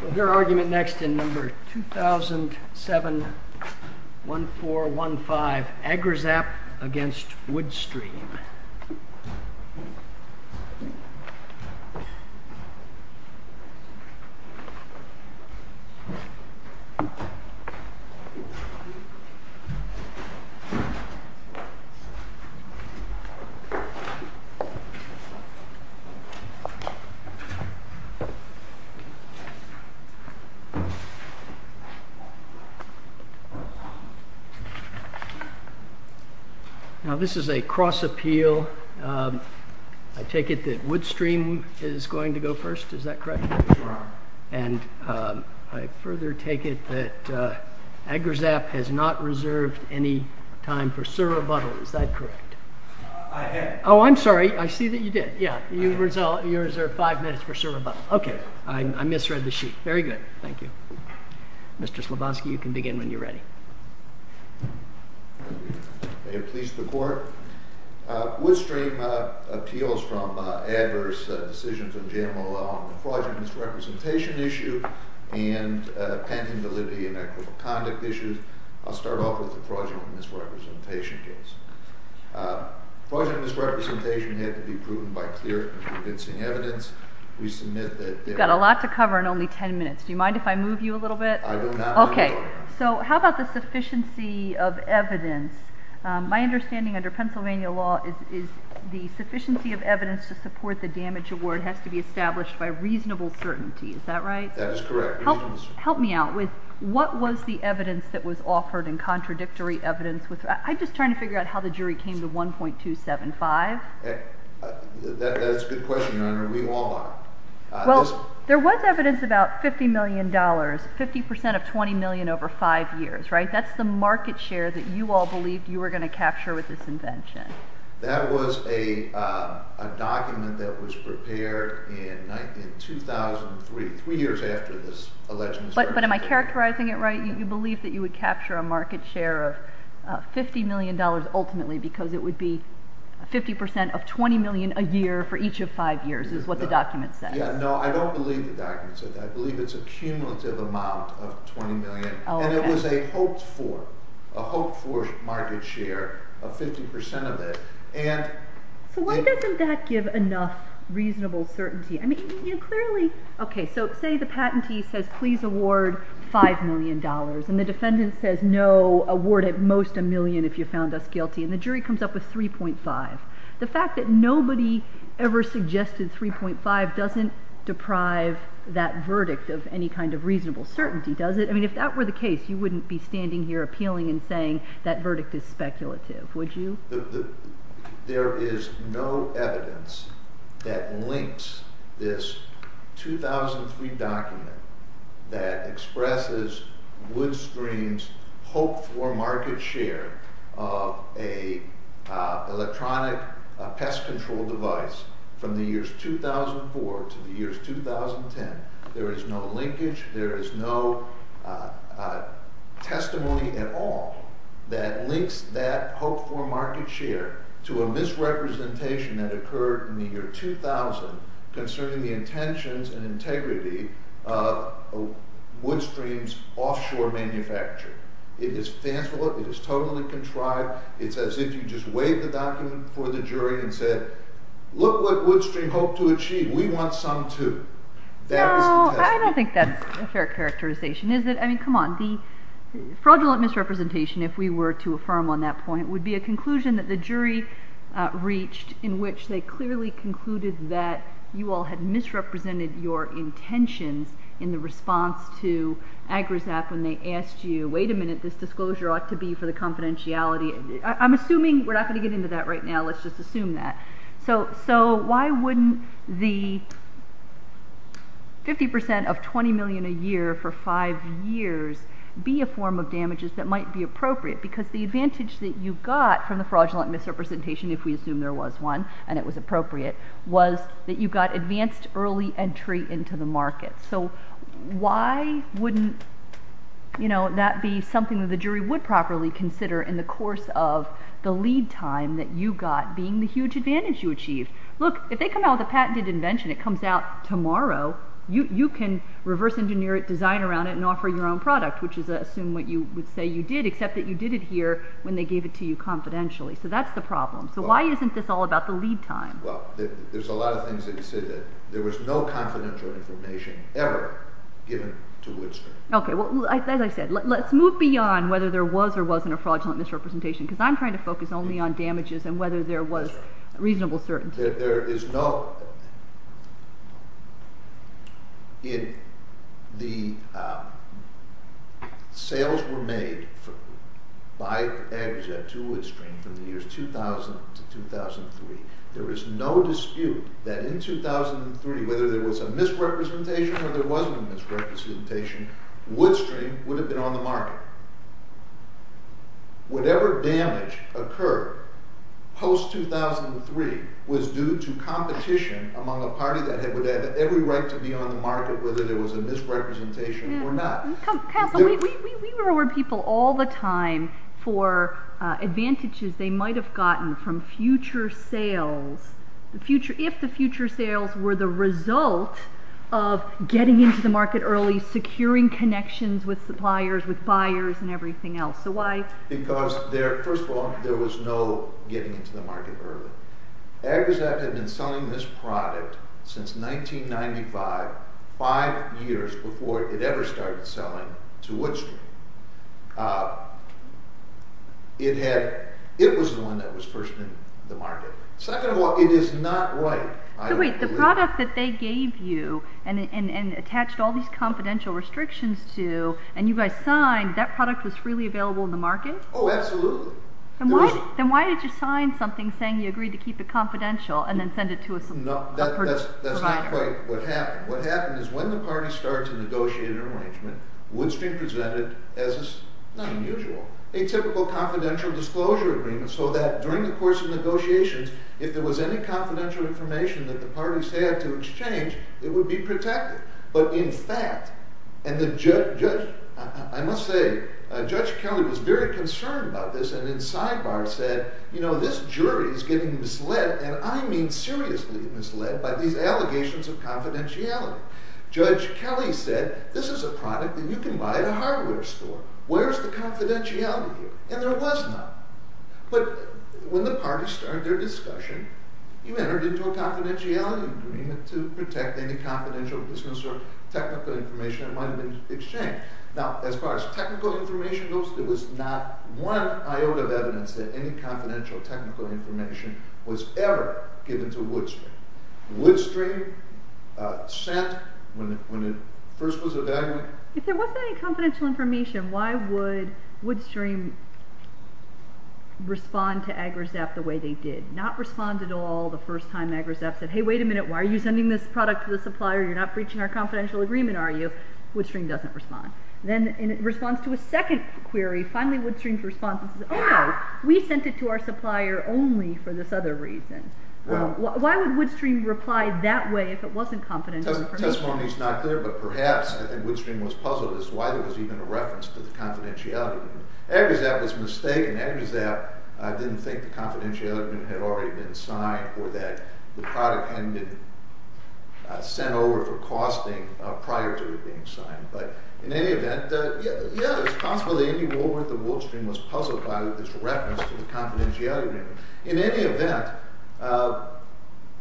We'll hear argument next in number 2007-1415, Agrizap v. Woodstream. Now this is a cross appeal. I take it that Woodstream is going to go first, is that correct? And I further take it that Agrizap has not reserved any time for Sir Rebuttal, is that correct? I have. Oh, I'm sorry, I see that you did. Yeah, you reserved five minutes for Sir Rebuttal. Okay, I misread the sheet. Very good. Thank you. Mr. Slaboski, you can begin when you're ready. May it please the Court. Woodstream appeals from adverse decisions of JMLL on the fraudulent misrepresentation issue and pending validity and equitable conduct issues. I'll start off with the fraudulent misrepresentation case. Fraudulent misrepresentation had to be proven by clear and convincing evidence. We submit that there was... You've got a lot to cover in only ten minutes. Do you mind if I move you a little bit? I will not move you. Okay, so how about the sufficiency of evidence? My understanding under Pennsylvania law is the sufficiency of evidence to support the damage award has to be established by reasonable certainty, is that right? That is correct. Help me out with what was the evidence that was offered in contradictory evidence? I'm just trying to figure out how the jury came to 1.275. That's a good question, Your Honor. We all are. Well, there was evidence about $50 million, 50% of $20 million over five years, right? That's the market share that you all believed you were going to capture with this invention. That was a document that was prepared in 2003, three years after this alleged misrepresentation. But am I characterizing it right? You believed that you would capture a market share of $50 million ultimately because it would be 50% of $20 million a year for each of five years, is what the document said. No, I don't believe the document said that. I believe it's a cumulative amount of $20 million. And it was a hoped-for market share of 50% of it. So why doesn't that give enough reasonable certainty? I mean, clearly, okay, so say the patentee says, please award $5 million, and the defendant says, no, award at most a million if you found us guilty, and the jury comes up with 3.5. The fact that nobody ever suggested 3.5 doesn't deprive that verdict of any kind of reasonable certainty, does it? I mean, if that were the case, you wouldn't be standing here appealing and saying that verdict is speculative, would you? There is no evidence that links this 2003 document that expresses Woodstream's hoped-for market share of an electronic pest control device from the years 2004 to the years 2010. There is no linkage, there is no testimony at all that links that hoped-for market share to a misrepresentation that occurred in the year 2000 concerning the intentions and integrity of Woodstream's offshore manufacturing. It is fanciful, it is totally contrived, it's as if you just waved the document before the jury and said, look what Woodstream hoped to achieve, we want some too. No, I don't think that's a fair characterization, is it? I mean, come on, the fraudulent misrepresentation, if we were to affirm on that point, would be a conclusion that the jury reached in which they clearly concluded that you all had misrepresented your intentions in the response to Agrasap when they asked you, wait a minute, this disclosure ought to be for the confidentiality. I'm assuming, we're not going to get into that right now, let's just assume that. So why wouldn't the 50% of $20 million a year for five years be a form of damages that might be appropriate? Because the advantage that you got from the fraudulent misrepresentation, if we assume there was one, and it was appropriate, was that you got advanced early entry into the market. So why wouldn't that be something that the jury would properly consider in the course of the lead time that you got being the huge advantage you achieved? Look, if they come out with a patented invention, it comes out tomorrow, you can reverse engineer it, design around it, and offer your own product, which is to assume what you would say you did, except that you did it here when they gave it to you confidentially. So that's the problem. So why isn't this all about the lead time? Well, there's a lot of things that you said that there was no confidential information ever given to Woodstring. Okay, well, as I said, let's move beyond whether there was or wasn't a fraudulent misrepresentation, because I'm trying to focus only on damages and whether there was reasonable certainty. There is no... The sales were made by AgriZep to Woodstring from the years 2000 to 2003. There is no dispute that in 2003, whether there was a misrepresentation or there wasn't a misrepresentation, Woodstring would have been on the market. Whatever damage occurred post-2003 was due to competition among a party that had every right to be on the market, whether there was a misrepresentation or not. Council, we reward people all the time for advantages they might have gotten from future sales, if the future sales were the result of getting into the market early, securing connections with suppliers, with buyers, and everything else. So why... Because, first of all, there was no getting into the market early. AgriZep had been selling this product since 1995, five years before it ever started selling to Woodstring. It was the one that was first in the market. Second of all, it is not right. So wait, the product that they gave you and attached all these confidential restrictions to, and you guys signed, that product was freely available in the market? Oh, absolutely. Then why did you sign something saying you agreed to keep it confidential and then send it to a supplier? No, that's not quite what happened. What happened is when the parties started to negotiate an arrangement, Woodstring presented, as is not unusual, a typical confidential disclosure agreement so that during the course of negotiations, if there was any confidential information that the parties had to exchange, it would be protected. But in fact, and the judge... I must say, Judge Kelly was very concerned about this and in sidebar said, you know, this jury is getting misled, and I mean seriously misled, by these allegations of confidentiality. Judge Kelly said, this is a product that you can buy at a hardware store. Where's the confidentiality here? And there was none. But when the parties started their discussion, you entered into a confidentiality agreement to protect any confidential business or technical information that might have been exchanged. Now, as far as technical information goes, there was not one iota of evidence that any confidential technical information was ever given to Woodstring. Woodstring sent, when it first was evaluated... If there wasn't any confidential information, why would Woodstring respond to Agrizep the way they did? It did not respond at all the first time Agrizep said, hey, wait a minute, why are you sending this product to the supplier? You're not breaching our confidential agreement, are you? Woodstring doesn't respond. Then in response to a second query, finally Woodstring's response is, oh, we sent it to our supplier only for this other reason. Why would Woodstring reply that way if it wasn't confidential information? Testimony's not there, but perhaps, I think Woodstring was puzzled as to why there was even a reference to the confidentiality agreement. Agrizep was mistaken. Agrizep didn't think the confidentiality agreement had already been signed or that the product hadn't been sent over for costing prior to it being signed. But in any event, yeah, it's possible that Andy Woolworth of Woodstring was puzzled by this reference to the confidentiality agreement. In any event,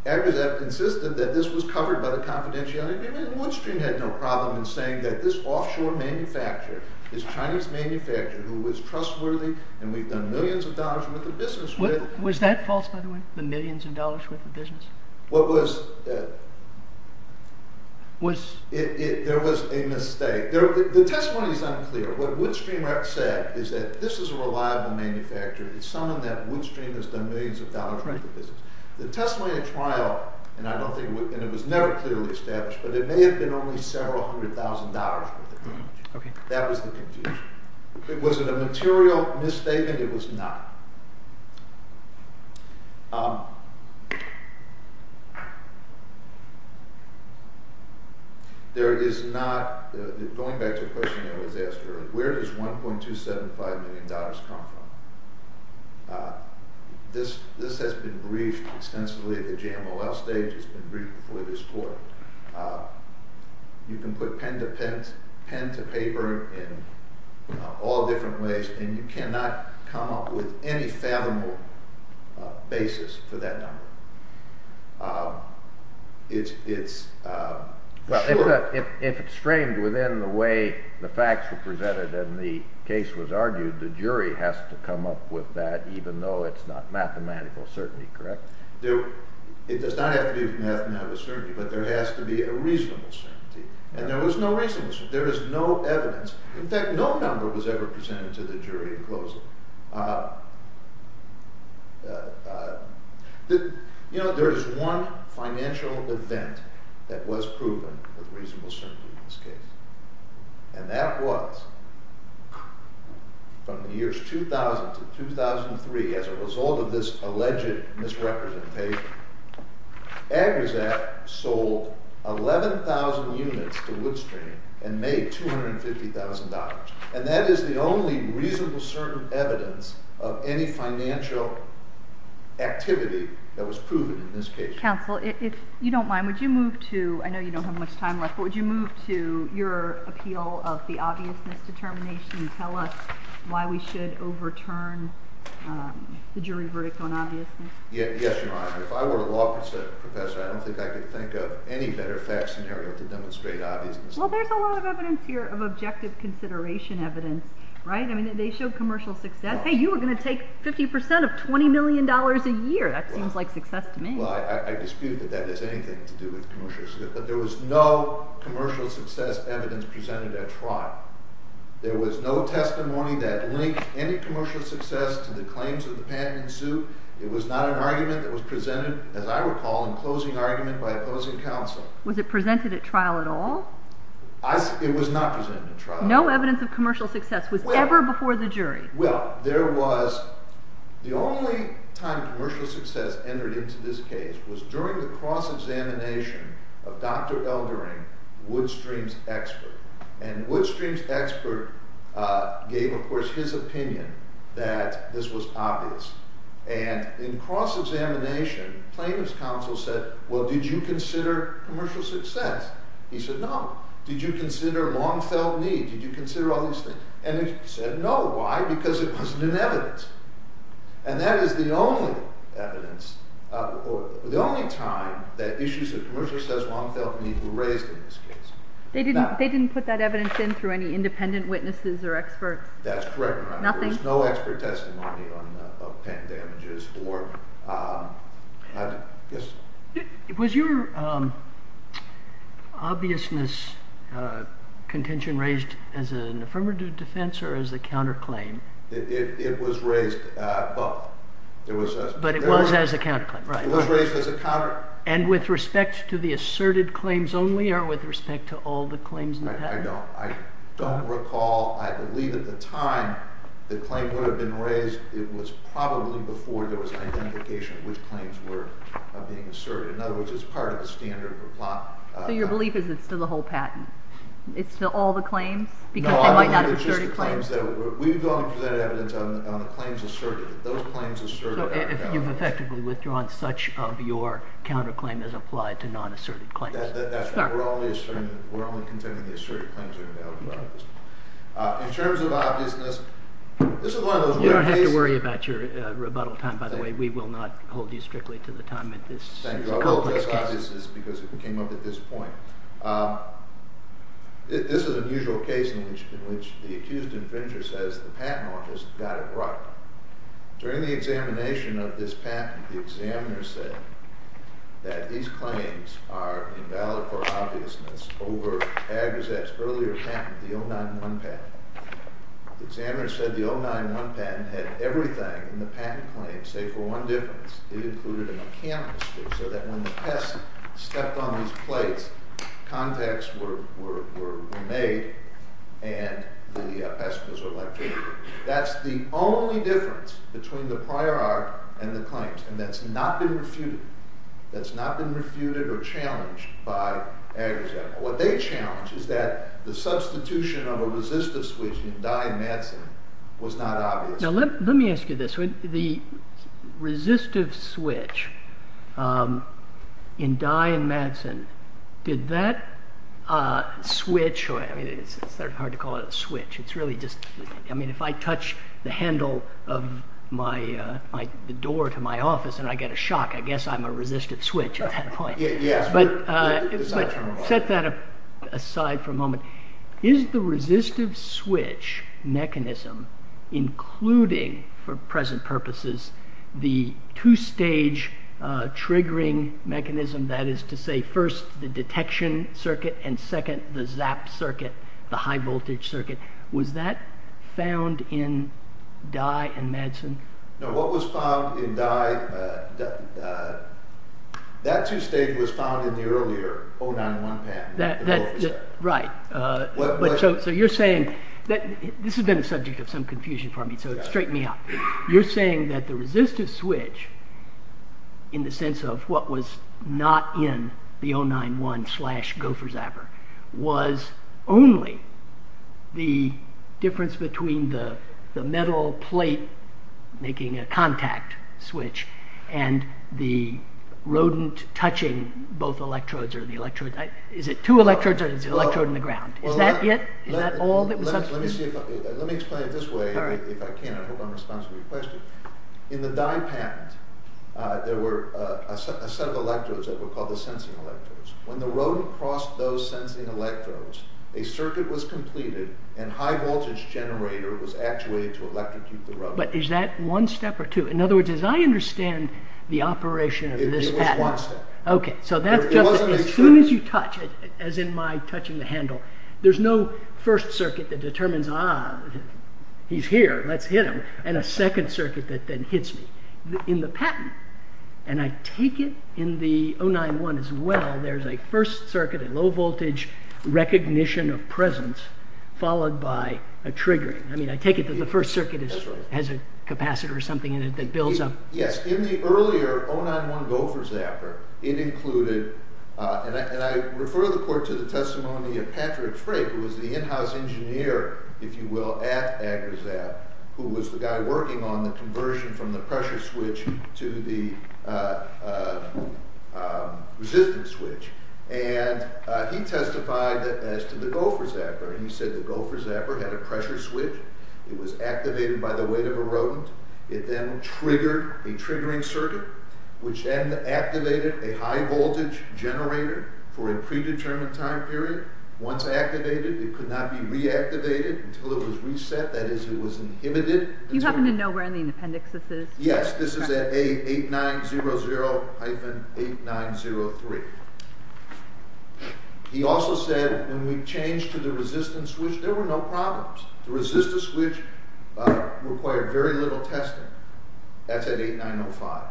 Agrizep insisted that this was covered by the confidentiality agreement, and Woodstring had no problem in saying that this offshore manufacturer, this Chinese manufacturer who was trustworthy, and we've done millions of dollars worth of business with. Was that false, by the way, the millions of dollars worth of business? What was... Was... There was a mistake. The testimony's unclear. What Woodstring said is that this is a reliable manufacturer. It's someone that Woodstring has done millions of dollars worth of business. The testimony at trial, and it was never clearly established, but it may have been only several hundred thousand dollars worth of business. Okay. That was the confusion. Was it a material misstatement? It was not. There is not... Going back to the question that was asked earlier, where does $1.275 million come from? This has been briefed extensively at the JMOL stage. It's been briefed before this court. You can put pen to paper in all different ways, and you cannot come up with any fathomable basis for that number. It's... Well, if it's framed within the way the facts were presented and the case was argued, the jury has to come up with that even though it's not mathematical certainty, correct? It does not have to be mathematical certainty, but there has to be a reasonable certainty, and there was no reasonable certainty. There is no evidence. In fact, no number was ever presented to the jury in closing. You know, there is one financial event that was proven with reasonable certainty in this case, and that was from the years 2000 to 2003, as a result of this alleged misrepresentation, Agrasat sold 11,000 units to Woodstream and made $250,000, and that is the only reasonable certain evidence of any financial activity that was proven in this case. Counsel, if you don't mind, would you move to... I know you don't have much time left, but would you move to your appeal of the obviousness determination and tell us why we should overturn the jury verdict on obviousness? Yes, Your Honor. If I were a law professor, I don't think I could think of any better fact scenario to demonstrate obviousness. Well, there's a lot of evidence here of objective consideration evidence, right? I mean, they showed commercial success. Hey, you were going to take 50% of $20 million a year. That seems like success to me. Well, I dispute that that has anything to do with commercial success, but there was no commercial success evidence presented at trial. There was no testimony that linked any commercial success to the claims of the patent in suit. It was not an argument that was presented, as I recall, in closing argument by opposing counsel. Was it presented at trial at all? It was not presented at trial. No evidence of commercial success was ever before the jury? Well, there was. The only time commercial success entered into this case was during the cross-examination of Dr. Eldering, Woodstream's expert, and Woodstream's expert gave, of course, his opinion that this was obvious, and in cross-examination, plaintiff's counsel said, well, did you consider commercial success? He said, no. Did you consider long-felt need? Did you consider all these things? And he said, no. Why? Because it wasn't in evidence. And that is the only evidence, the only time that issues of commercial success, long-felt need were raised in this case. They didn't put that evidence in through any independent witnesses or experts? That's correct, Your Honor. Nothing? There was no expert testimony of patent damages. Yes? Was your obviousness contention raised as an affirmative defense or as a counterclaim? It was raised both. But it was as a counterclaim, right. It was raised as a counterclaim. And with respect to the asserted claims only or with respect to all the claims in the patent? I don't recall. I believe at the time the claim would have been raised. It was probably before there was identification of which claims were being asserted. In other words, it's part of the standard for plot. So your belief is it's to the whole patent? It's to all the claims? Because they might not have asserted claims? No, I believe it's just the claims. We've only presented evidence on the claims asserted. Those claims asserted are counterclaims. So you've effectively withdrawn such of your counterclaim as applied to non-asserted claims? That's right. We're only contending the asserted claims are invalid for obviousness. In terms of obviousness, this is one of those rare cases. You don't have to worry about your rebuttal time, by the way. We will not hold you strictly to the time at this. Thank you. I will address obviousness because it came up at this point. This is an unusual case in which the accused infringer says the patent office got it right. During the examination of this patent, the examiner said that these claims are invalid for obviousness over AgriZette's earlier patent, the 091 patent. The examiner said the 091 patent had everything in the patent claim, save for one difference. It included a mechanical strip so that when the pest stepped on these plates, contacts were made and the pest was electrocuted. That's the only difference between the prior art and the claims, and that's not been refuted. That's not been refuted or challenged by AgriZette. What they challenge is that the substitution of a resistive switch in Dye and Madsen was not obvious. Now, let me ask you this. The resistive switch in Dye and Madsen, did that switch – I mean, it's hard to call it a switch. It's really just – I mean, if I touch the handle of the door to my office and I get a shock, I guess I'm a resistive switch at that point. But set that aside for a moment. Is the resistive switch mechanism including, for present purposes, the two-stage triggering mechanism, that is to say, first the detection circuit and second the ZAP circuit, the high-voltage circuit, was that found in Dye and Madsen? No, what was found in Dye – that two-stage was found in the earlier 091 patent. Right. So you're saying – this has been a subject of some confusion for me, so straighten me out. You're saying that the resistive switch, in the sense of what was not in the 091-slash-Gopher-Zapper, was only the difference between the metal plate making a contact switch and the rodent touching both electrodes or the electrode – is it two electrodes or is it the electrode in the ground? Is that it? Is that all that was – Let me explain it this way, if I can. I hope I'm responsible for your question. In the Dye patent, there were a set of electrodes that were called the sensing electrodes. When the rodent crossed those sensing electrodes, a circuit was completed and a high-voltage generator was actuated to electrocute the rodent. But is that one step or two? In other words, as I understand the operation of this patent – It was one step. As soon as you touch it, as in my touching the handle, there's no first circuit that determines, ah, he's here, let's hit him, and a second circuit that then hits me. In the patent, and I take it in the 091 as well, there's a first circuit, a low-voltage recognition of presence, followed by a triggering. I mean, I take it that the first circuit has a capacitor or something in it that builds up. Yes, in the earlier 091 Gopher Zapper, it included – and I refer the court to the testimony of Patrick Frey, who was the in-house engineer, if you will, at AgriZap, who was the guy working on the conversion from the pressure switch to the resistance switch. And he testified as to the Gopher Zapper. He said the Gopher Zapper had a pressure switch. It was activated by the weight of a rodent. It then triggered a triggering circuit, which then activated a high-voltage generator for a predetermined time period. Once activated, it could not be reactivated until it was reset, that is, it was inhibited. You happen to know where in the appendix this is? Yes, this is at A8900-8903. He also said, when we changed to the resistance switch, there were no problems. The resistance switch required very little testing. That's at 8905.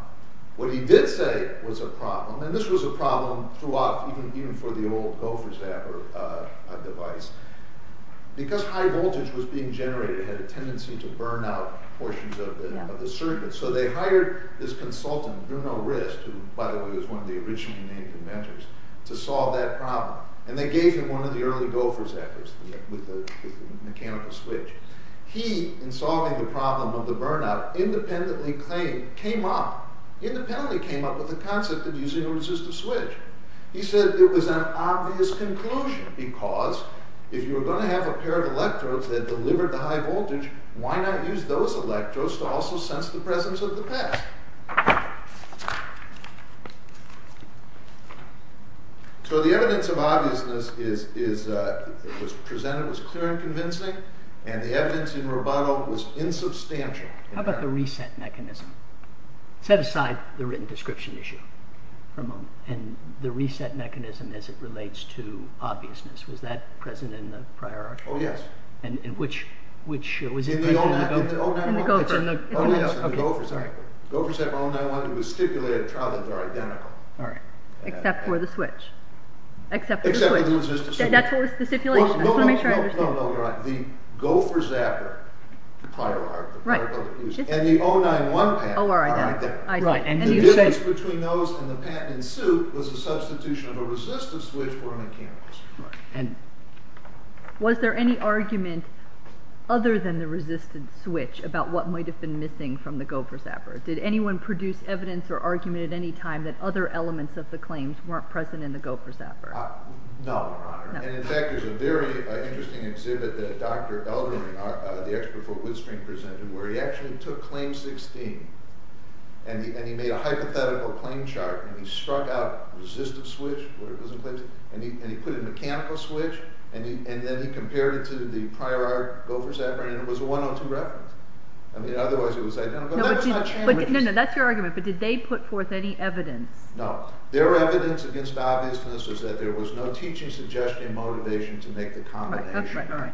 What he did say was a problem, and this was a problem throughout, even for the old Gopher Zapper device. Because high voltage was being generated, it had a tendency to burn out portions of the circuit. So they hired this consultant, Bruno Rist, who, by the way, was one of the original Canadian inventors, to solve that problem. And they gave him one of the early Gopher Zappers with the mechanical switch. He, in solving the problem of the burnout, independently came up with the concept of using a resistor switch. He said it was an obvious conclusion, because if you were going to have a pair of electrodes that delivered the high voltage, why not use those electrodes to also sense the presence of the past? So the evidence of obviousness was clear and convincing, and the evidence in Roboto was insubstantial. How about the reset mechanism? Set aside the written description issue for a moment. And the reset mechanism as it relates to obviousness, was that present in the prior article? Oh, yes. In which? In the Gopher. Oh, yes, in the Gopher Zapper. The Gopher Zapper 091 was stipulated to be identical. All right. Except for the switch. Except for the switch. Except for the resistor switch. That's what was stipulated. I just want to make sure I understand. No, no, you're right. The Gopher Zapper, the prior article, and the 091 patent are identical. And the difference between those and the patent in suit was the substitution of a resistor switch for a mechanical switch. Was there any argument other than the resistance switch about what might have been missing from the Gopher Zapper? Did anyone produce evidence or argument at any time that other elements of the claims weren't present in the Gopher Zapper? No, Your Honor. And in fact, there's a very interesting exhibit that Dr. Elderling, the expert for Woodstring presented, where he actually took Claim 16 and he made a hypothetical claim chart and he struck out resistance switch, and he put a mechanical switch and then he compared it to the prior Gopher Zapper and it was a 102 reference. I mean, otherwise it was identical. No, no, that's your argument, but did they put forth any evidence? No. Their evidence against the obviousness was that there was no teaching, suggestion, or motivation to make the combination.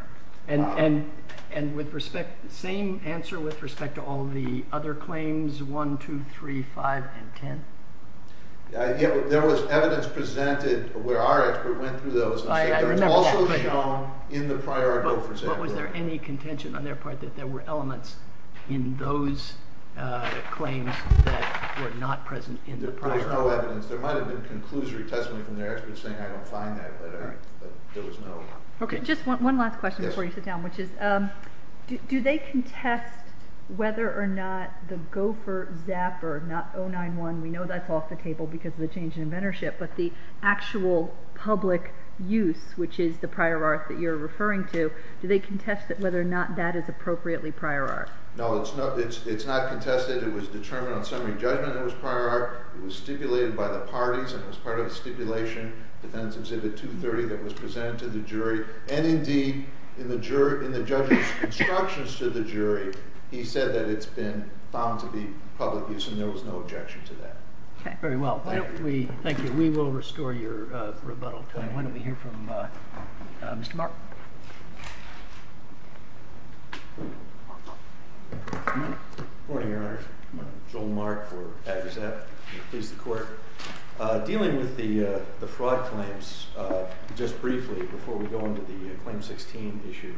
And with respect, same answer with respect to all the other claims, 1, 2, 3, 5, and 10? There was evidence presented where our expert went through those. It was also shown in the prior Gopher Zapper. But was there any contention on their part that there were elements in those claims that were not present in the prior one? There was no evidence. There might have been conclusory testimony from their experts saying, I don't find that letter, but there was no. Okay, just one last question before you sit down, which is do they contest whether or not the Gopher Zapper, not 091, we know that's off the table because of the change in inventorship, but the actual public use, which is the prior art that you're referring to, do they contest whether or not that is appropriately prior art? No, it's not contested. It was determined on summary judgment that it was prior art. It was stipulated by the parties and was part of the stipulation, Defense Exhibit 230, that was presented to the jury. And indeed, in the judge's instructions to the jury, he said that it's been found to be public use, and there was no objection to that. Okay, very well. Thank you. We will restore your rebuttal time. Why don't we hear from Mr. Mark? Good morning, Your Honor. I'm Joel Mark for Agazep. Dealing with the fraud claims, just briefly, before we go into the Claim 16 issue,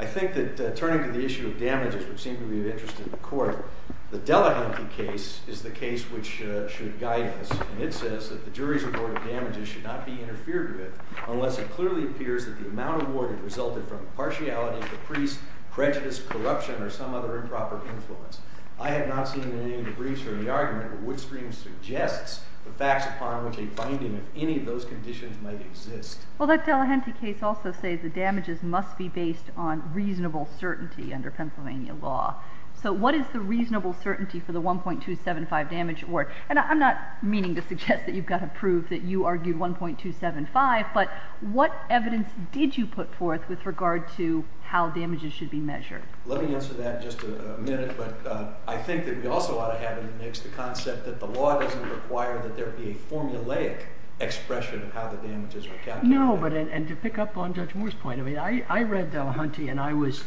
I think that turning to the issue of damages, which seemed to be of interest to the court, the Delahunty case is the case which should guide us. And it says that the jury's report of damages should not be interfered with unless it clearly appears that the amount awarded resulted from partiality of the priest, prejudice, corruption, or some other improper influence. I have not seen any of the briefs or the argument, but Woodstream suggests the facts upon which a finding of any of those conditions might exist. Well, that Delahunty case also says the damages must be based on reasonable certainty under Pennsylvania law. So what is the reasonable certainty for the 1.275 damage award? And I'm not meaning to suggest that you've got to prove that you argued 1.275, but what evidence did you put forth with regard to how damages should be measured? Let me answer that in just a minute. But I think that we also ought to have in the mix the concept that the law doesn't require that there be a formulaic expression of how the damages are calculated. No, but to pick up on Judge Moore's point, I read Delahunty and I was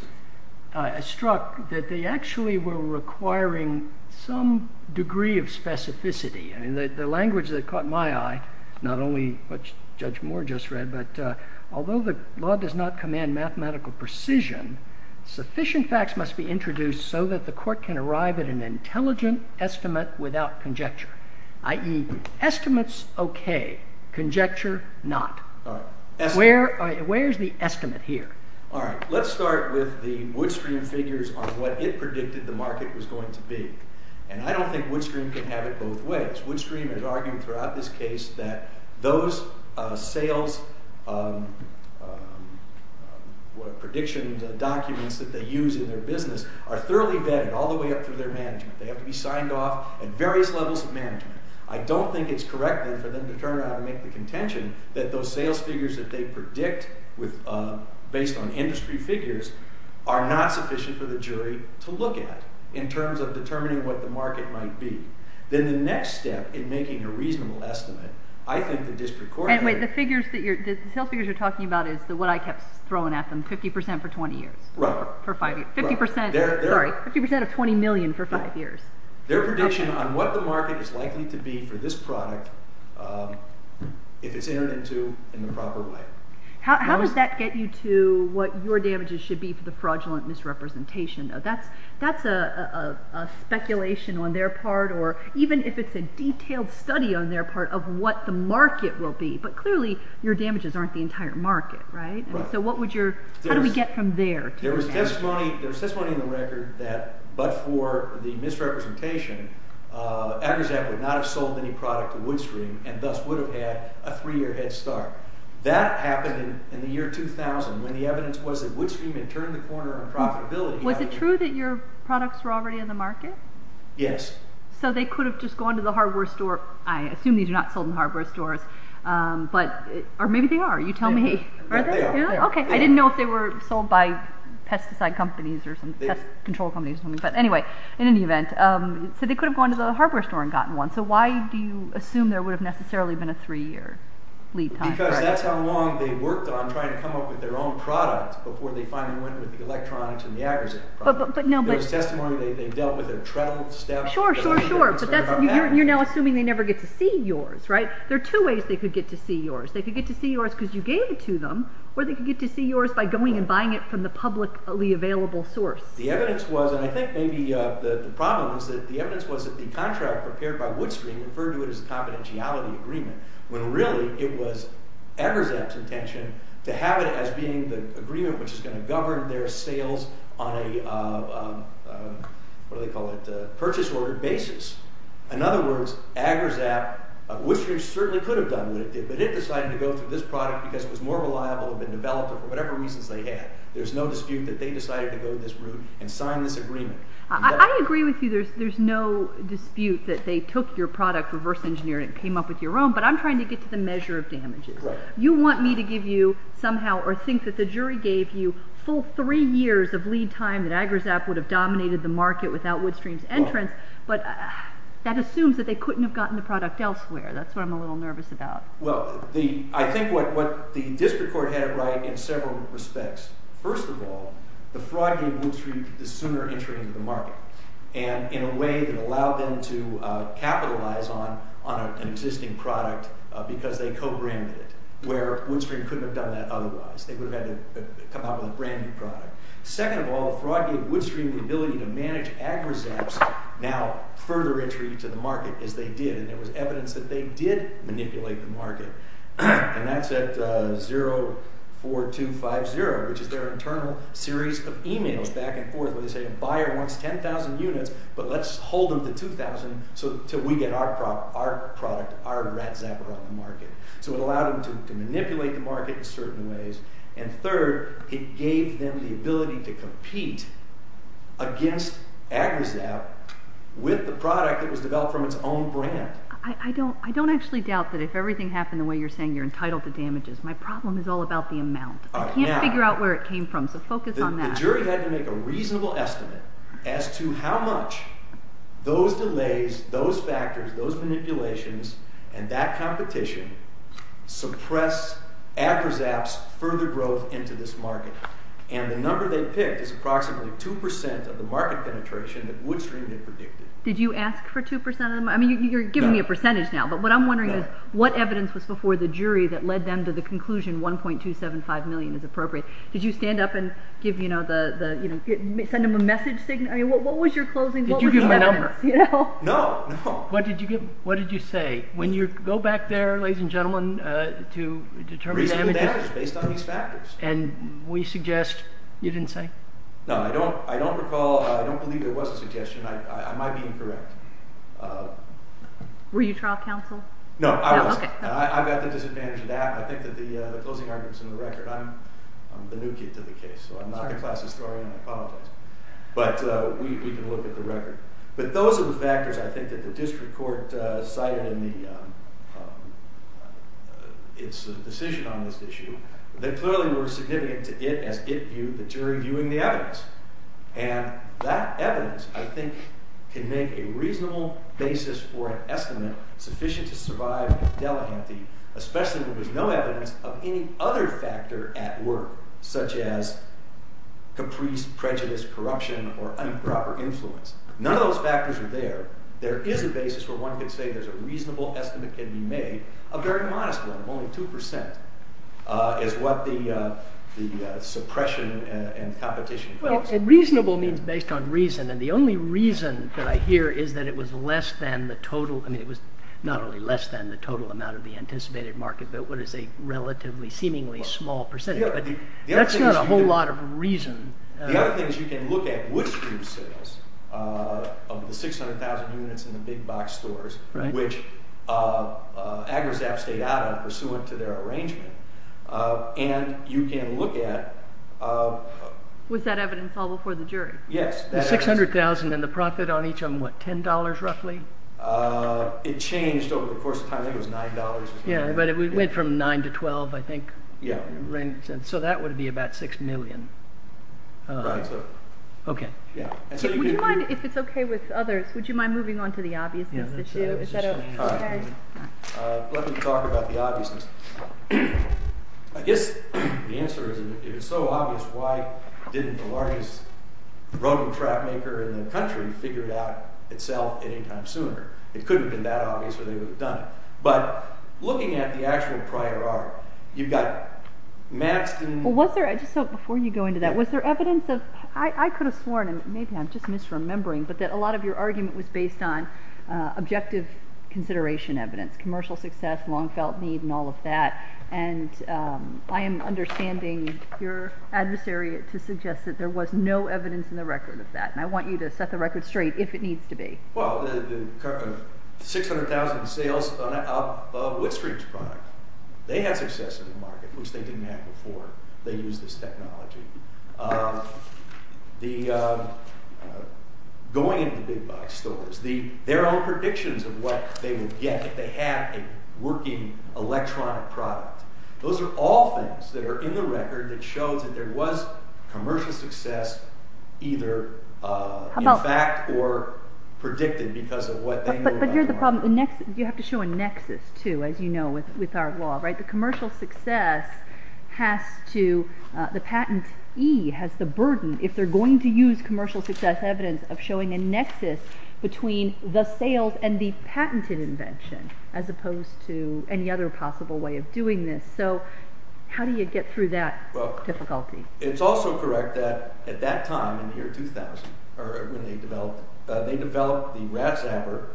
struck that they actually were requiring some degree of specificity. The language that caught my eye, not only what Judge Moore just read, but although the law does not command mathematical precision, sufficient facts must be introduced so that the court can arrive at an intelligent estimate without conjecture, i.e. estimates okay, conjecture not. Where is the estimate here? All right, let's start with the Woodstream figures on what it predicted the market was going to be. And I don't think Woodstream can have it both ways. Woodstream has argued throughout this case that those sales prediction documents that they use in their business are thoroughly vetted all the way up through their management. They have to be signed off at various levels of management. I don't think it's correct, then, for them to turn around and make the contention that those sales figures that they predict based on industry figures are not sufficient for the jury to look at in terms of determining what the market might be. Then the next step in making a reasonable estimate, I think the district court— And wait, the figures that you're—the sales figures you're talking about is what I kept throwing at them, 50 percent for 20 years. Right. For five years. Right. Sorry, 50 percent of 20 million for five years. Their prediction on what the market is likely to be for this product if it's entered into in the proper way. How does that get you to what your damages should be for the fraudulent misrepresentation? That's a speculation on their part, or even if it's a detailed study on their part of what the market will be. But clearly your damages aren't the entire market, right? Right. So what would your—how do we get from there to there? There was testimony in the record that but for the misrepresentation, Agrisac would not have sold any product to Woodstream and thus would have had a three-year head start. That happened in the year 2000 when the evidence was that Woodstream had turned the corner on profitability. Was it true that your products were already in the market? Yes. So they could have just gone to the hardware store. I assume these are not sold in hardware stores, but—or maybe they are. You tell me. They are. Okay. I didn't know if they were sold by pesticide companies or some pest control companies. But anyway, in any event, so they could have gone to the hardware store and gotten one. So why do you assume there would have necessarily been a three-year lead time? Because that's how long they worked on trying to come up with their own product before they finally went with the electronics and the Agrisac product. But no, but— There was testimony they dealt with a treadle step— Sure, sure, sure. But that's—you're now assuming they never get to see yours, right? There are two ways they could get to see yours. They could get to see yours because you gave it to them, or they could get to see yours by going and buying it from the publicly available source. The evidence was—and I think maybe the problem was that the evidence was that the contract prepared by Woodstream referred to it as a confidentiality agreement, when really it was Agrisac's intention to have it as being the agreement which is going to govern their sales on a—what do they call it?—purchase order basis. In other words, Agrisac—Woodstream certainly could have done what it did, but it decided to go through this product because it was more reliable, had been developed, or for whatever reasons they had. There's no dispute that they decided to go this route and sign this agreement. I agree with you there's no dispute that they took your product, reverse engineered it, and came up with your own, but I'm trying to get to the measure of damages. You want me to give you somehow or think that the jury gave you full three years of lead time that Agrisac would have dominated the market without Woodstream's entrance. But that assumes that they couldn't have gotten the product elsewhere. That's what I'm a little nervous about. Well, I think what the district court had it right in several respects. First of all, the fraud gave Woodstream the sooner entry into the market, and in a way that allowed them to capitalize on an existing product because they co-branded it, where Woodstream couldn't have done that otherwise. They would have had to come up with a brand new product. Second of all, the fraud gave Woodstream the ability to manage Agrisac's now further entry into the market as they did, and there was evidence that they did manipulate the market. And that's at 04250, which is their internal series of emails back and forth where they say a buyer wants 10,000 units, but let's hold them to 2,000 until we get our product, our rat zapper on the market. So it allowed them to manipulate the market in certain ways. And third, it gave them the ability to compete against Agrisac with the product that was developed from its own brand. I don't actually doubt that if everything happened the way you're saying you're entitled to damages, my problem is all about the amount. I can't figure out where it came from, so focus on that. The jury had to make a reasonable estimate as to how much those delays, those factors, those manipulations, and that competition suppress Agrisac's further growth into this market. And the number they picked is approximately 2% of the market penetration that Woodstream had predicted. Did you ask for 2% of the market? I mean, you're giving me a percentage now, but what I'm wondering is what evidence was before the jury that led them to the conclusion 1.275 million is appropriate? Did you stand up and send them a message signal? I mean, what was your closing? What was the evidence? Did you give them a number? No, no. What did you say when you go back there, ladies and gentlemen, to determine the damages? Reasonable damage based on these factors. And will you suggest you didn't say? No, I don't recall. I don't believe there was a suggestion. I might be incorrect. Were you trial counsel? No, I wasn't. I've got the disadvantage of that. I think that the closing argument is in the record. I'm the new kid to the case, so I'm not the class historian. I apologize. But we can look at the record. But those are the factors, I think, that the district court cited in its decision on this issue that clearly were significant to it as it viewed the jury viewing the evidence. And that evidence, I think, can make a reasonable basis for an estimate sufficient to survive Delahanty, especially when there's no evidence of any other factor at work, such as caprice, prejudice, corruption, or improper influence. None of those factors are there. There is a basis where one could say there's a reasonable estimate can be made of very modest one, only 2%, is what the suppression and competition claims. Well, reasonable means based on reason, and the only reason that I hear is that it was less than the total. I mean, it was not only less than the total amount of the anticipated market, but what is a relatively seemingly small percentage. But that's not a whole lot of reason. The other thing is you can look at which group's sales of the 600,000 units in the big box stores, which AgriZap stayed out of pursuant to their arrangement. And you can look at... Was that evidence all before the jury? Yes. The 600,000 and the profit on each of them, what, $10 roughly? It changed over the course of time. I think it was $9. Yeah, but it went from 9 to 12, I think. Yeah. So that would be about 6 million. Right, so... Okay. Would you mind, if it's okay with others, would you mind moving on to the obviousness issue? Let me talk about the obviousness. I guess the answer is it was so obvious, why didn't the largest road and track maker in the country figure it out itself any time sooner? It couldn't have been that obvious or they would have done it. But looking at the actual prior art, you've got maps... Before you go into that, was there evidence of... I could have sworn, maybe I'm just misremembering, but that a lot of your argument was based on objective consideration evidence. Commercial success, long felt need, and all of that. And I am understanding your adversary to suggest that there was no evidence in the record of that. And I want you to set the record straight if it needs to be. Well, the 600,000 sales of Woodstreet's product. They had success in the market, which they didn't have before they used this technology. Going into big box stores, their own predictions of what they would get if they had a working electronic product. Those are all things that are in the record that show that there was commercial success either in fact or predicted because of what they knew about the product. But here's the problem, you have to show a nexus too, as you know with our law. The commercial success has to, the patentee has the burden, if they're going to use commercial success evidence, of showing a nexus between the sales and the patented invention, as opposed to any other possible way of doing this. So, how do you get through that difficulty? It's also correct that at that time, in the year 2000, when they developed, they developed the RAFZAPPER.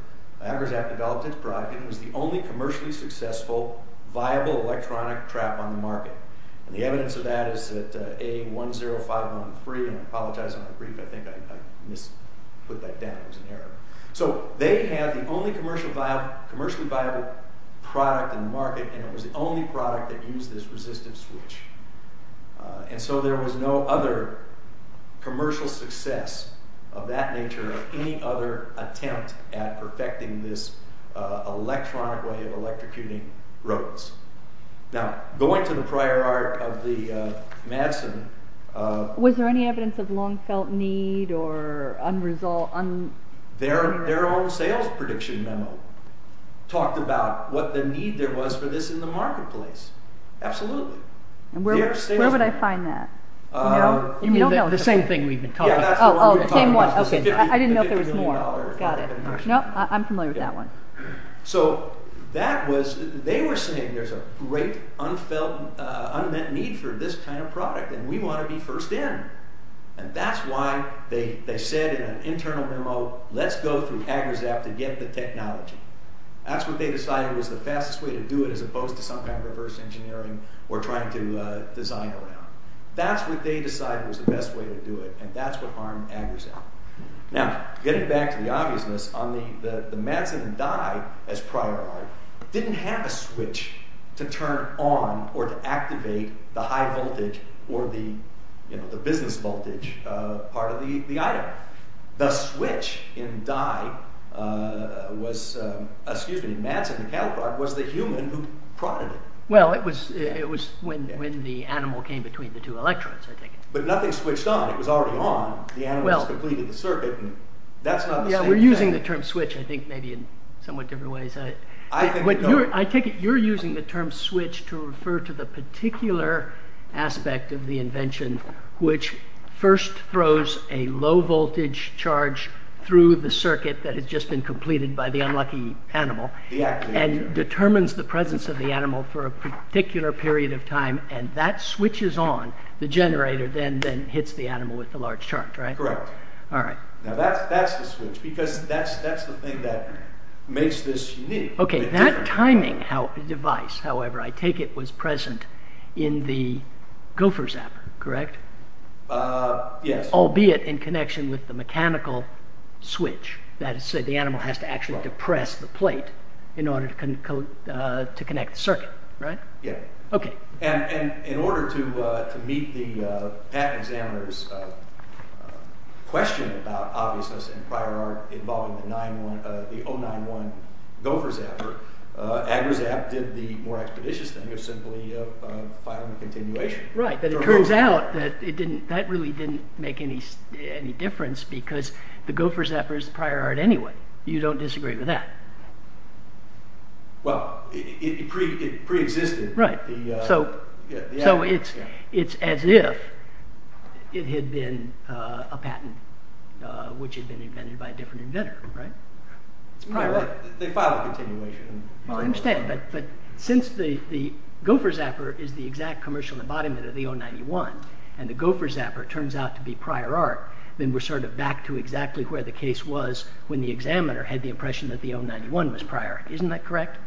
RAFZAPPER developed its product and it was the only commercially successful viable electronic trap on the market. The evidence of that is that A10513, and I apologize for the brief, I think I misput that down, it was an error. So, they had the only commercially viable product on the market and it was the only product that used this resistive switch. And so there was no other commercial success of that nature or any other attempt at perfecting this electronic way of electrocuting robots. Now, going to the prior art of the Madsen... Was there any evidence of long felt need or unresolved... Their own sales prediction memo talked about what the need there was for this in the marketplace. Absolutely. Where would I find that? You don't know, the same thing we've been talking about. Oh, the same one. I didn't know if there was more. No, I'm familiar with that one. So, they were saying there's a great unmet need for this kind of product and we want to be first in. And that's why they said in an internal memo, let's go through AGRZAPP to get the technology. That's what they decided was the fastest way to do it as opposed to some kind of reverse engineering or trying to design around. That's what they decided was the best way to do it and that's what harmed AGRZAPP. Now, getting back to the obviousness on the Madsen and Dye as prior art... Didn't have a switch to turn on or to activate the high voltage or the business voltage part of the item. The switch in Madsen and Calicard was the human who prodded it. Well, it was when the animal came between the two electrodes, I think. But nothing switched on. It was already on. The animal has completed the circuit and that's not the same thing. We're using the term switch, I think, maybe in somewhat different ways. I take it you're using the term switch to refer to the particular aspect of the invention which first throws a low voltage charge through the circuit that has just been completed by the unlucky animal and determines the presence of the animal for a particular period of time and that switch is on, the generator then hits the animal with the large charge, right? Correct. Alright. Now, that's the switch because that's the thing that makes this unique. Okay, that timing device, however, I take it was present in the Gopher Zapper, correct? Yes. Albeit in connection with the mechanical switch that said the animal has to actually depress the plate in order to connect the circuit, right? Yeah. Okay. And in order to meet the patent examiner's question about obviousness in prior art involving the 091 Gopher Zapper, Agra Zapper did the more expeditious thing of simply filing a continuation. Right, but it turns out that really didn't make any difference because the Gopher Zapper is prior art anyway. You don't disagree with that. Well, it preexisted. Right. So, it's as if it had been a patent which had been invented by a different inventor, right? It's prior art. They filed a continuation. I understand, but since the Gopher Zapper is the exact commercial embodiment of the 091 and the Gopher Zapper turns out to be prior art, then we're sort of back to exactly where the case was when the examiner had the impression that the 091 was prior art. Isn't that correct?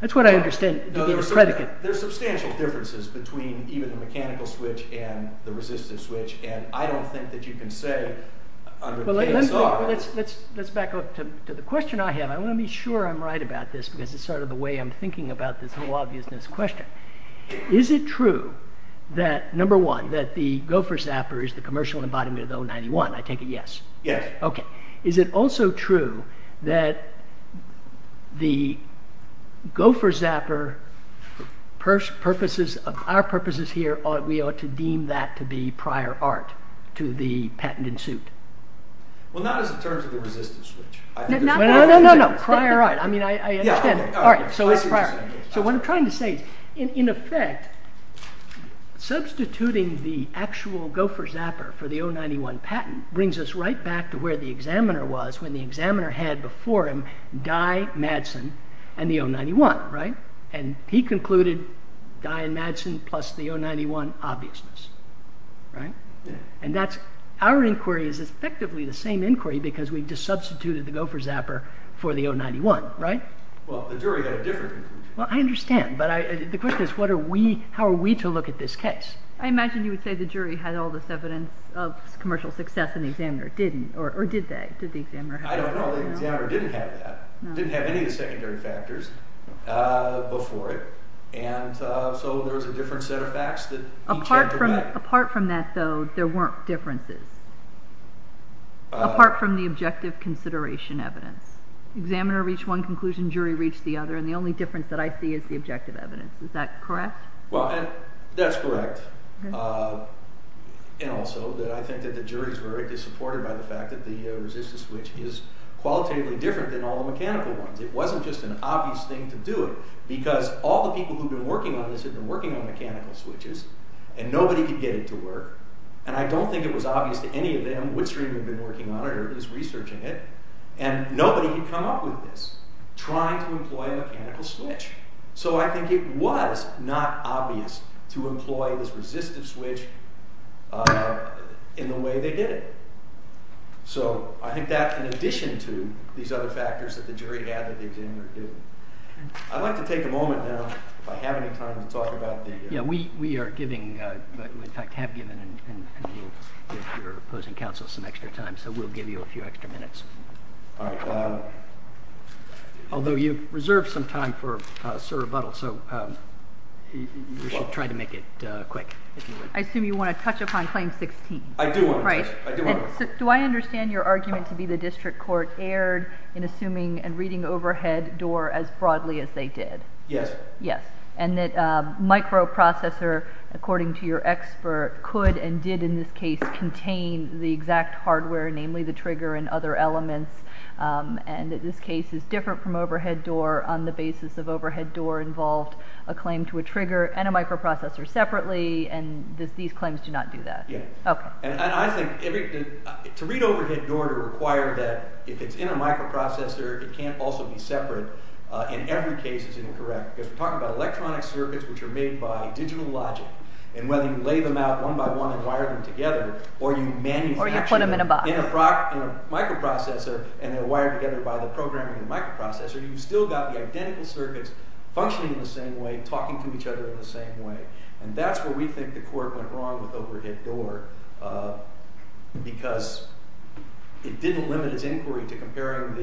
That's what I understand to be the predicate. There's substantial differences between even the mechanical switch and the resistive switch, and I don't think that you can say under the case art. Well, let's back up to the question I have. I want to be sure I'm right about this because it's sort of the way I'm thinking about this whole obviousness question. Is it true that, number one, that the Gopher Zapper is the commercial embodiment of the 091? I take it yes. Yes. Okay. Is it also true that the Gopher Zapper, our purposes here, we ought to deem that to be prior art to the patent in suit? Well, not as in terms of the resistive switch. No, no, no, no, prior art. I mean, I understand. All right. So, it's prior. So, what I'm trying to say is, in effect, substituting the actual Gopher Zapper for the 091 patent brings us right back to where the examiner was when the examiner had before him Dye, Madsen, and the 091, right? And he concluded Dye and Madsen plus the 091 obviousness, right? And that's our inquiry is effectively the same inquiry because we've just substituted the Gopher Zapper for the 091, right? Well, the jury had a different conclusion. Well, I understand, but the question is how are we to look at this case? I imagine you would say the jury had all this evidence of commercial success and the examiner didn't, or did they? Did the examiner have that? I don't know. The examiner didn't have that. No. Didn't have any of the secondary factors before it, and so there was a different set of facts that each had to back. Apart from that, though, there weren't differences, apart from the objective consideration evidence. Examiner reached one conclusion, jury reached the other, and the only difference that I see is the objective evidence. Is that correct? Well, that's correct, and also that I think that the jury's verdict is supported by the fact that the resistance switch is qualitatively different than all the mechanical ones. It wasn't just an obvious thing to do it because all the people who've been working on this have been working on mechanical switches, and nobody could get it to work, and I don't think it was obvious to any of them which stream they've been working on or who's researching it, and nobody had come up with this, trying to employ a mechanical switch. So I think it was not obvious to employ this resistive switch in the way they did it. So I think that in addition to these other factors that the jury had that the examiner didn't. I'd like to take a moment now, if I have any time, to talk about the— Yeah, we are giving, in fact have given, and we'll give your opposing counsel some extra time, so we'll give you a few extra minutes. Although you've reserved some time for Sir Rebuttal, so you should try to make it quick. I assume you want to touch upon Claim 16. I do. Do I understand your argument to be the district court erred in assuming and reading overhead door as broadly as they did? Yes. Yes, and that microprocessor, according to your expert, could and did in this case contain the exact hardware, namely the trigger and other elements, and that this case is different from overhead door on the basis of overhead door involved a claim to a trigger and a microprocessor separately, and that these claims do not do that? Yes. Okay. And I think to read overhead door to require that if it's in a microprocessor it can't also be separate in every case is incorrect, because we're talking about electronic circuits which are made by digital logic, and whether you lay them out one by one and wire them together or you manufacture them— Or you put them in a box. —in a microprocessor and they're wired together by the programming of the microprocessor, you've still got the identical circuits functioning in the same way, talking to each other in the same way, and that's where we think the court went wrong with overhead door because it didn't limit its inquiry to comparing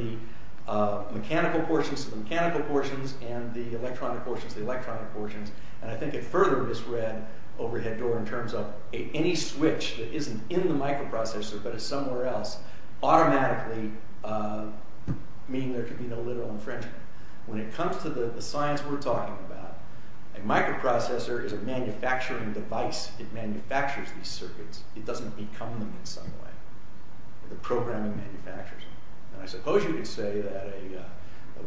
the mechanical portions to the mechanical portions and the electronic portions to the electronic portions, and I think it further misread overhead door in terms of any switch that isn't in the microprocessor but is somewhere else automatically meaning there could be no literal infringement. When it comes to the science we're talking about, a microprocessor is a manufacturing device. It manufactures these circuits. It doesn't become them in some way. The programming manufactures them, and I suppose you could say that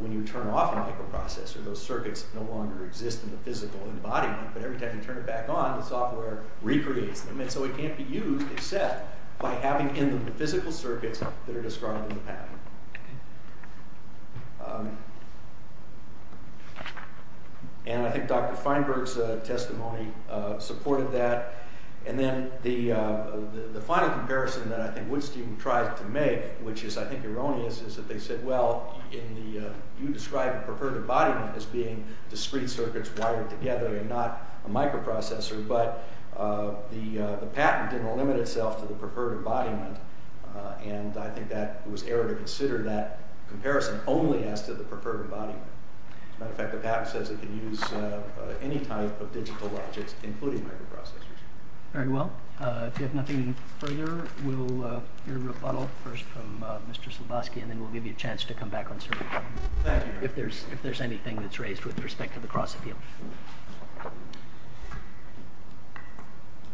when you turn off a microprocessor those circuits no longer exist in the physical embodiment, but every time you turn it back on the software recreates them, and so it can't be used except by having in them the physical circuits that are described in the patent. And I think Dr. Feinberg's testimony supported that, and then the final comparison that I think Woodstein tried to make, which is I think erroneous, is that they said, well, you describe a preferred embodiment as being discrete circuits wired together and not a microprocessor, but the patent didn't limit itself to the preferred embodiment, and I think that it was error to consider that comparison only as to the preferred embodiment. As a matter of fact, the patent says it can use any type of digital logics, including microprocessors. Very well. If you have nothing further, we'll hear a rebuttal first from Mr. Slaboski, and then we'll give you a chance to come back on the survey if there's anything that's raised with respect to the cross-appeal.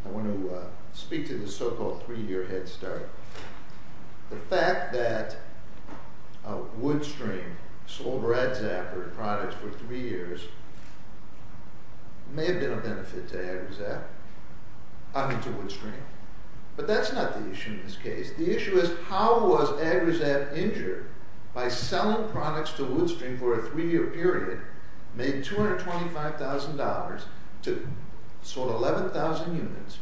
I want to speak to the so-called three-year head start. The fact that Woodstream sold RADZAP-er products for three years may have been a benefit to Woodstream, but that's not the issue in this case. The issue is how was RADZAP injured by selling products to Woodstream for a three-year period, made $225,000, sold 11,000 units,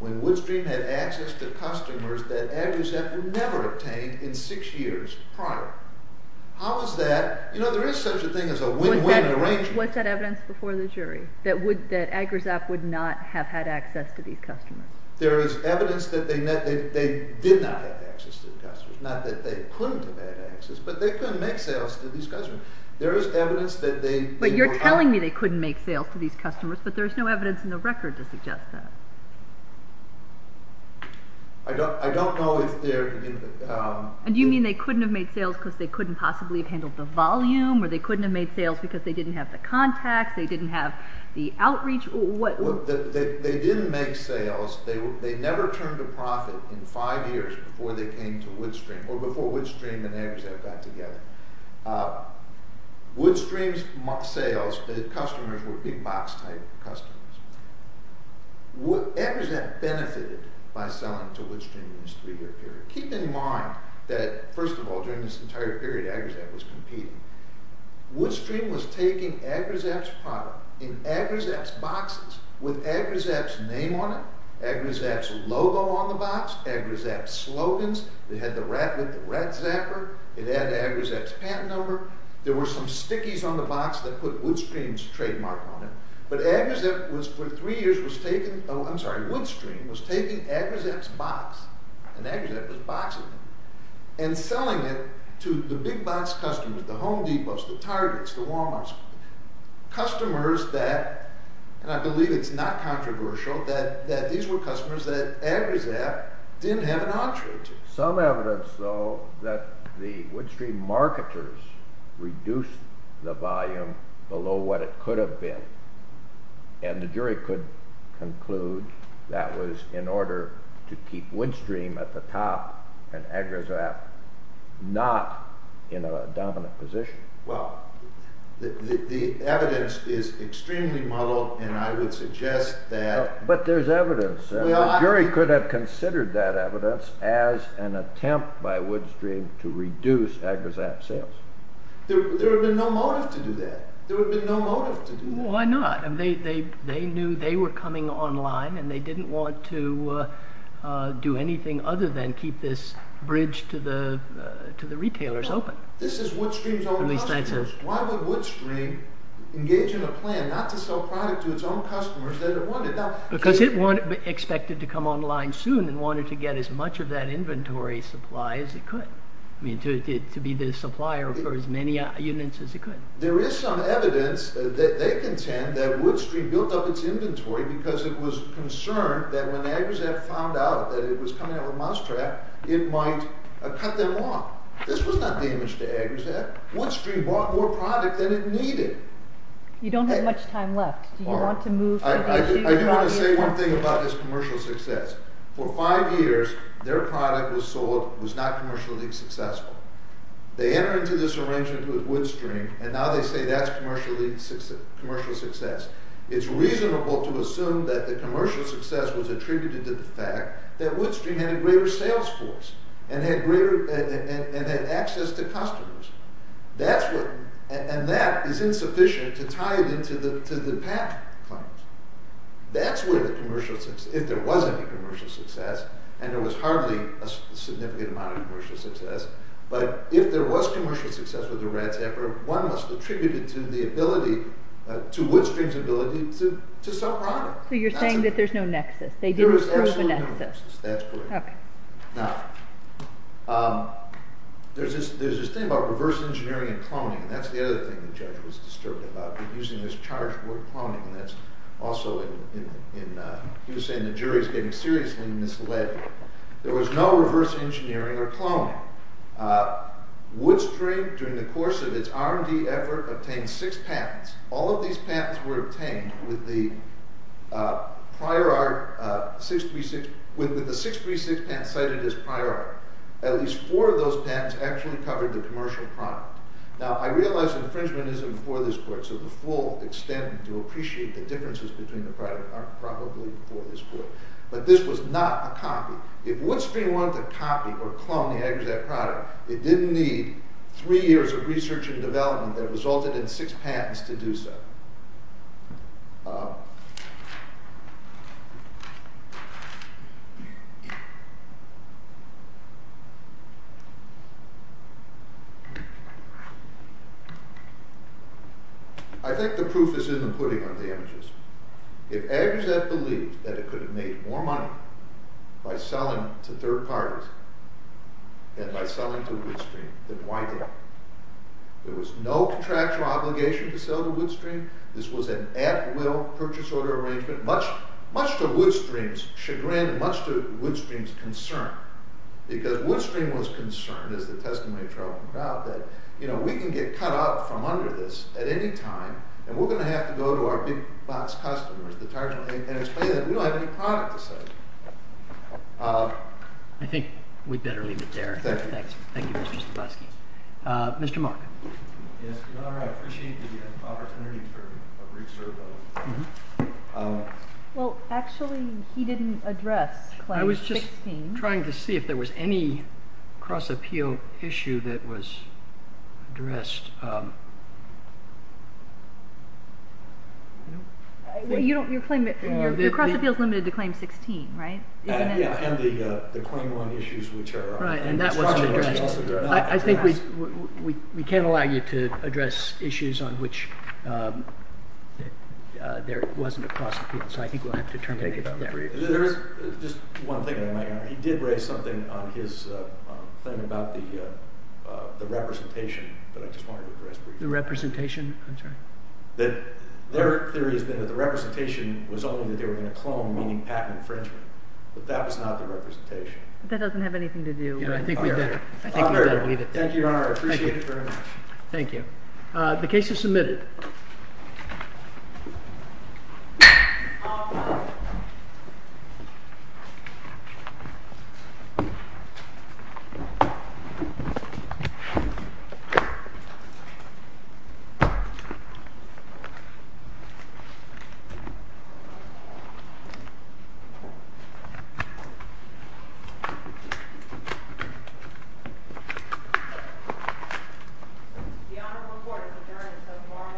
when Woodstream had access to customers that AgriZap would never have obtained in six years prior? How is that – you know, there is such a thing as a win-win arrangement. Was that evidence before the jury, that AgriZap would not have had access to these customers? There is evidence that they did not have access to the customers. Not that they couldn't have had access, but they couldn't make sales to these customers. There is evidence that they – But you're telling me they couldn't make sales to these customers, but there's no evidence in the record to suggest that. I don't know if they're – And do you mean they couldn't have made sales because they couldn't possibly have handled the volume, or they couldn't have made sales because they didn't have the contacts, they didn't have the outreach? They didn't make sales. They never turned a profit in five years before they came to Woodstream, or before Woodstream and AgriZap got together. Woodstream's sales to the customers were big box-type customers. AgriZap benefited by selling to Woodstream in this three-year period. Keep in mind that, first of all, during this entire period, AgriZap was competing. Woodstream was taking AgriZap's product in AgriZap's boxes with AgriZap's name on it, AgriZap's logo on the box, AgriZap's slogans, they had the rat with the rat zapper, it had AgriZap's patent number, there were some stickies on the box that put Woodstream's trademark on it, but AgriZap was, for three years, was taking – oh, I'm sorry, Woodstream was taking AgriZap's box, and AgriZap was boxing it, and selling it to the big box customers, the Home Depots, the Targets, the Walmarts, customers that – and I believe it's not controversial – that these were customers that AgriZap didn't have an entree to. Some evidence, though, that the Woodstream marketers reduced the volume below what it could have been, and the jury could conclude that was in order to keep Woodstream at the top and AgriZap not in a dominant position. Well, the evidence is extremely muddled, and I would suggest that – But there's evidence. The jury could have considered that evidence as an attempt by Woodstream to reduce AgriZap's sales. There would have been no motive to do that. There would have been no motive to do that. Why not? They knew they were coming online, and they didn't want to do anything other than keep this bridge to the retailers open. This is Woodstream's own customers. Why would Woodstream engage in a plan not to sell product to its own customers that it wanted? Because it expected to come online soon and wanted to get as much of that inventory supply as it could, to be the supplier for as many units as it could. There is some evidence that they contend that Woodstream built up its inventory because it was concerned that when AgriZap found out that it was coming out of a mousetrap, it might cut them off. This was not damage to AgriZap. Woodstream bought more product than it needed. You don't have much time left. Do you want to move to the future? I do want to say one thing about this commercial success. For five years, their product was sold, was not commercially successful. They enter into this arrangement with Woodstream, and now they say that's commercial success. It's reasonable to assume that the commercial success was attributed to the fact that Woodstream had a greater sales force, and had access to customers. And that is insufficient to tie it into the patent claims. That's where the commercial success, if there was any commercial success, and there was hardly a significant amount of commercial success, but if there was commercial success with the RATS effort, one must attribute it to Woodstream's ability to sell product. So you're saying that there's no nexus. There is also no nexus, that's correct. Now, there's this thing about reverse engineering and cloning, and that's the other thing the judge was disturbed about, using this charged word cloning. He was saying the jury is getting seriously misled here. There was no reverse engineering or cloning. Woodstream, during the course of its R&D effort, obtained six patents. All of these patents were obtained with the 636 patent cited as prior art. At least four of those patents actually covered the commercial product. Now, I realize infringement isn't before this court, so the full extent to appreciate the differences between the product aren't probably before this court, but this was not a copy. If Woodstream wanted to copy or clone the Agrizat product, it didn't need three years of research and development that resulted in six patents to do so. I think the proof is in the pudding of the images. If Agrizat believed that it could have made more money by selling to third parties than by selling to Woodstream, then why did it? There was no contractual obligation to sell to Woodstream. This was an at-will purchase order arrangement, much to Woodstream's chagrin, much to Woodstream's concern, because Woodstream was concerned, as the testimony of Charles pointed out, that we can get cut out from under this at any time, and we're going to have to go to our big-box customers, the target agents, and explain that we don't have any product to sell. I think we'd better leave it there. Thank you. Thank you, Mr. Stavosky. Mr. Mark. Yes, Your Honor, I appreciate the opportunity to reserve those. Well, actually, he didn't address Claim 16. I'm trying to see if there was any cross-appeal issue that was addressed. Your cross-appeal is limited to Claim 16, right? Yeah, and the Claim 1 issues, which are cross-appeals. I think we can't allow you to address issues on which there wasn't a cross-appeal, so I think we'll have to terminate it there. Just one thing, Your Honor. He did raise something on his claim about the representation that I just wanted to address for you. The representation? I'm sorry. Their theory has been that the representation was only that they were going to clone, meaning patent infringement, but that was not the representation. That doesn't have anything to do with it. I think we'd better leave it there. Thank you, Your Honor. I appreciate it very much. Thank you. The case is submitted. Thank you. The Honorable Court has adjourned until tomorrow morning at 10 a.m. Thank you.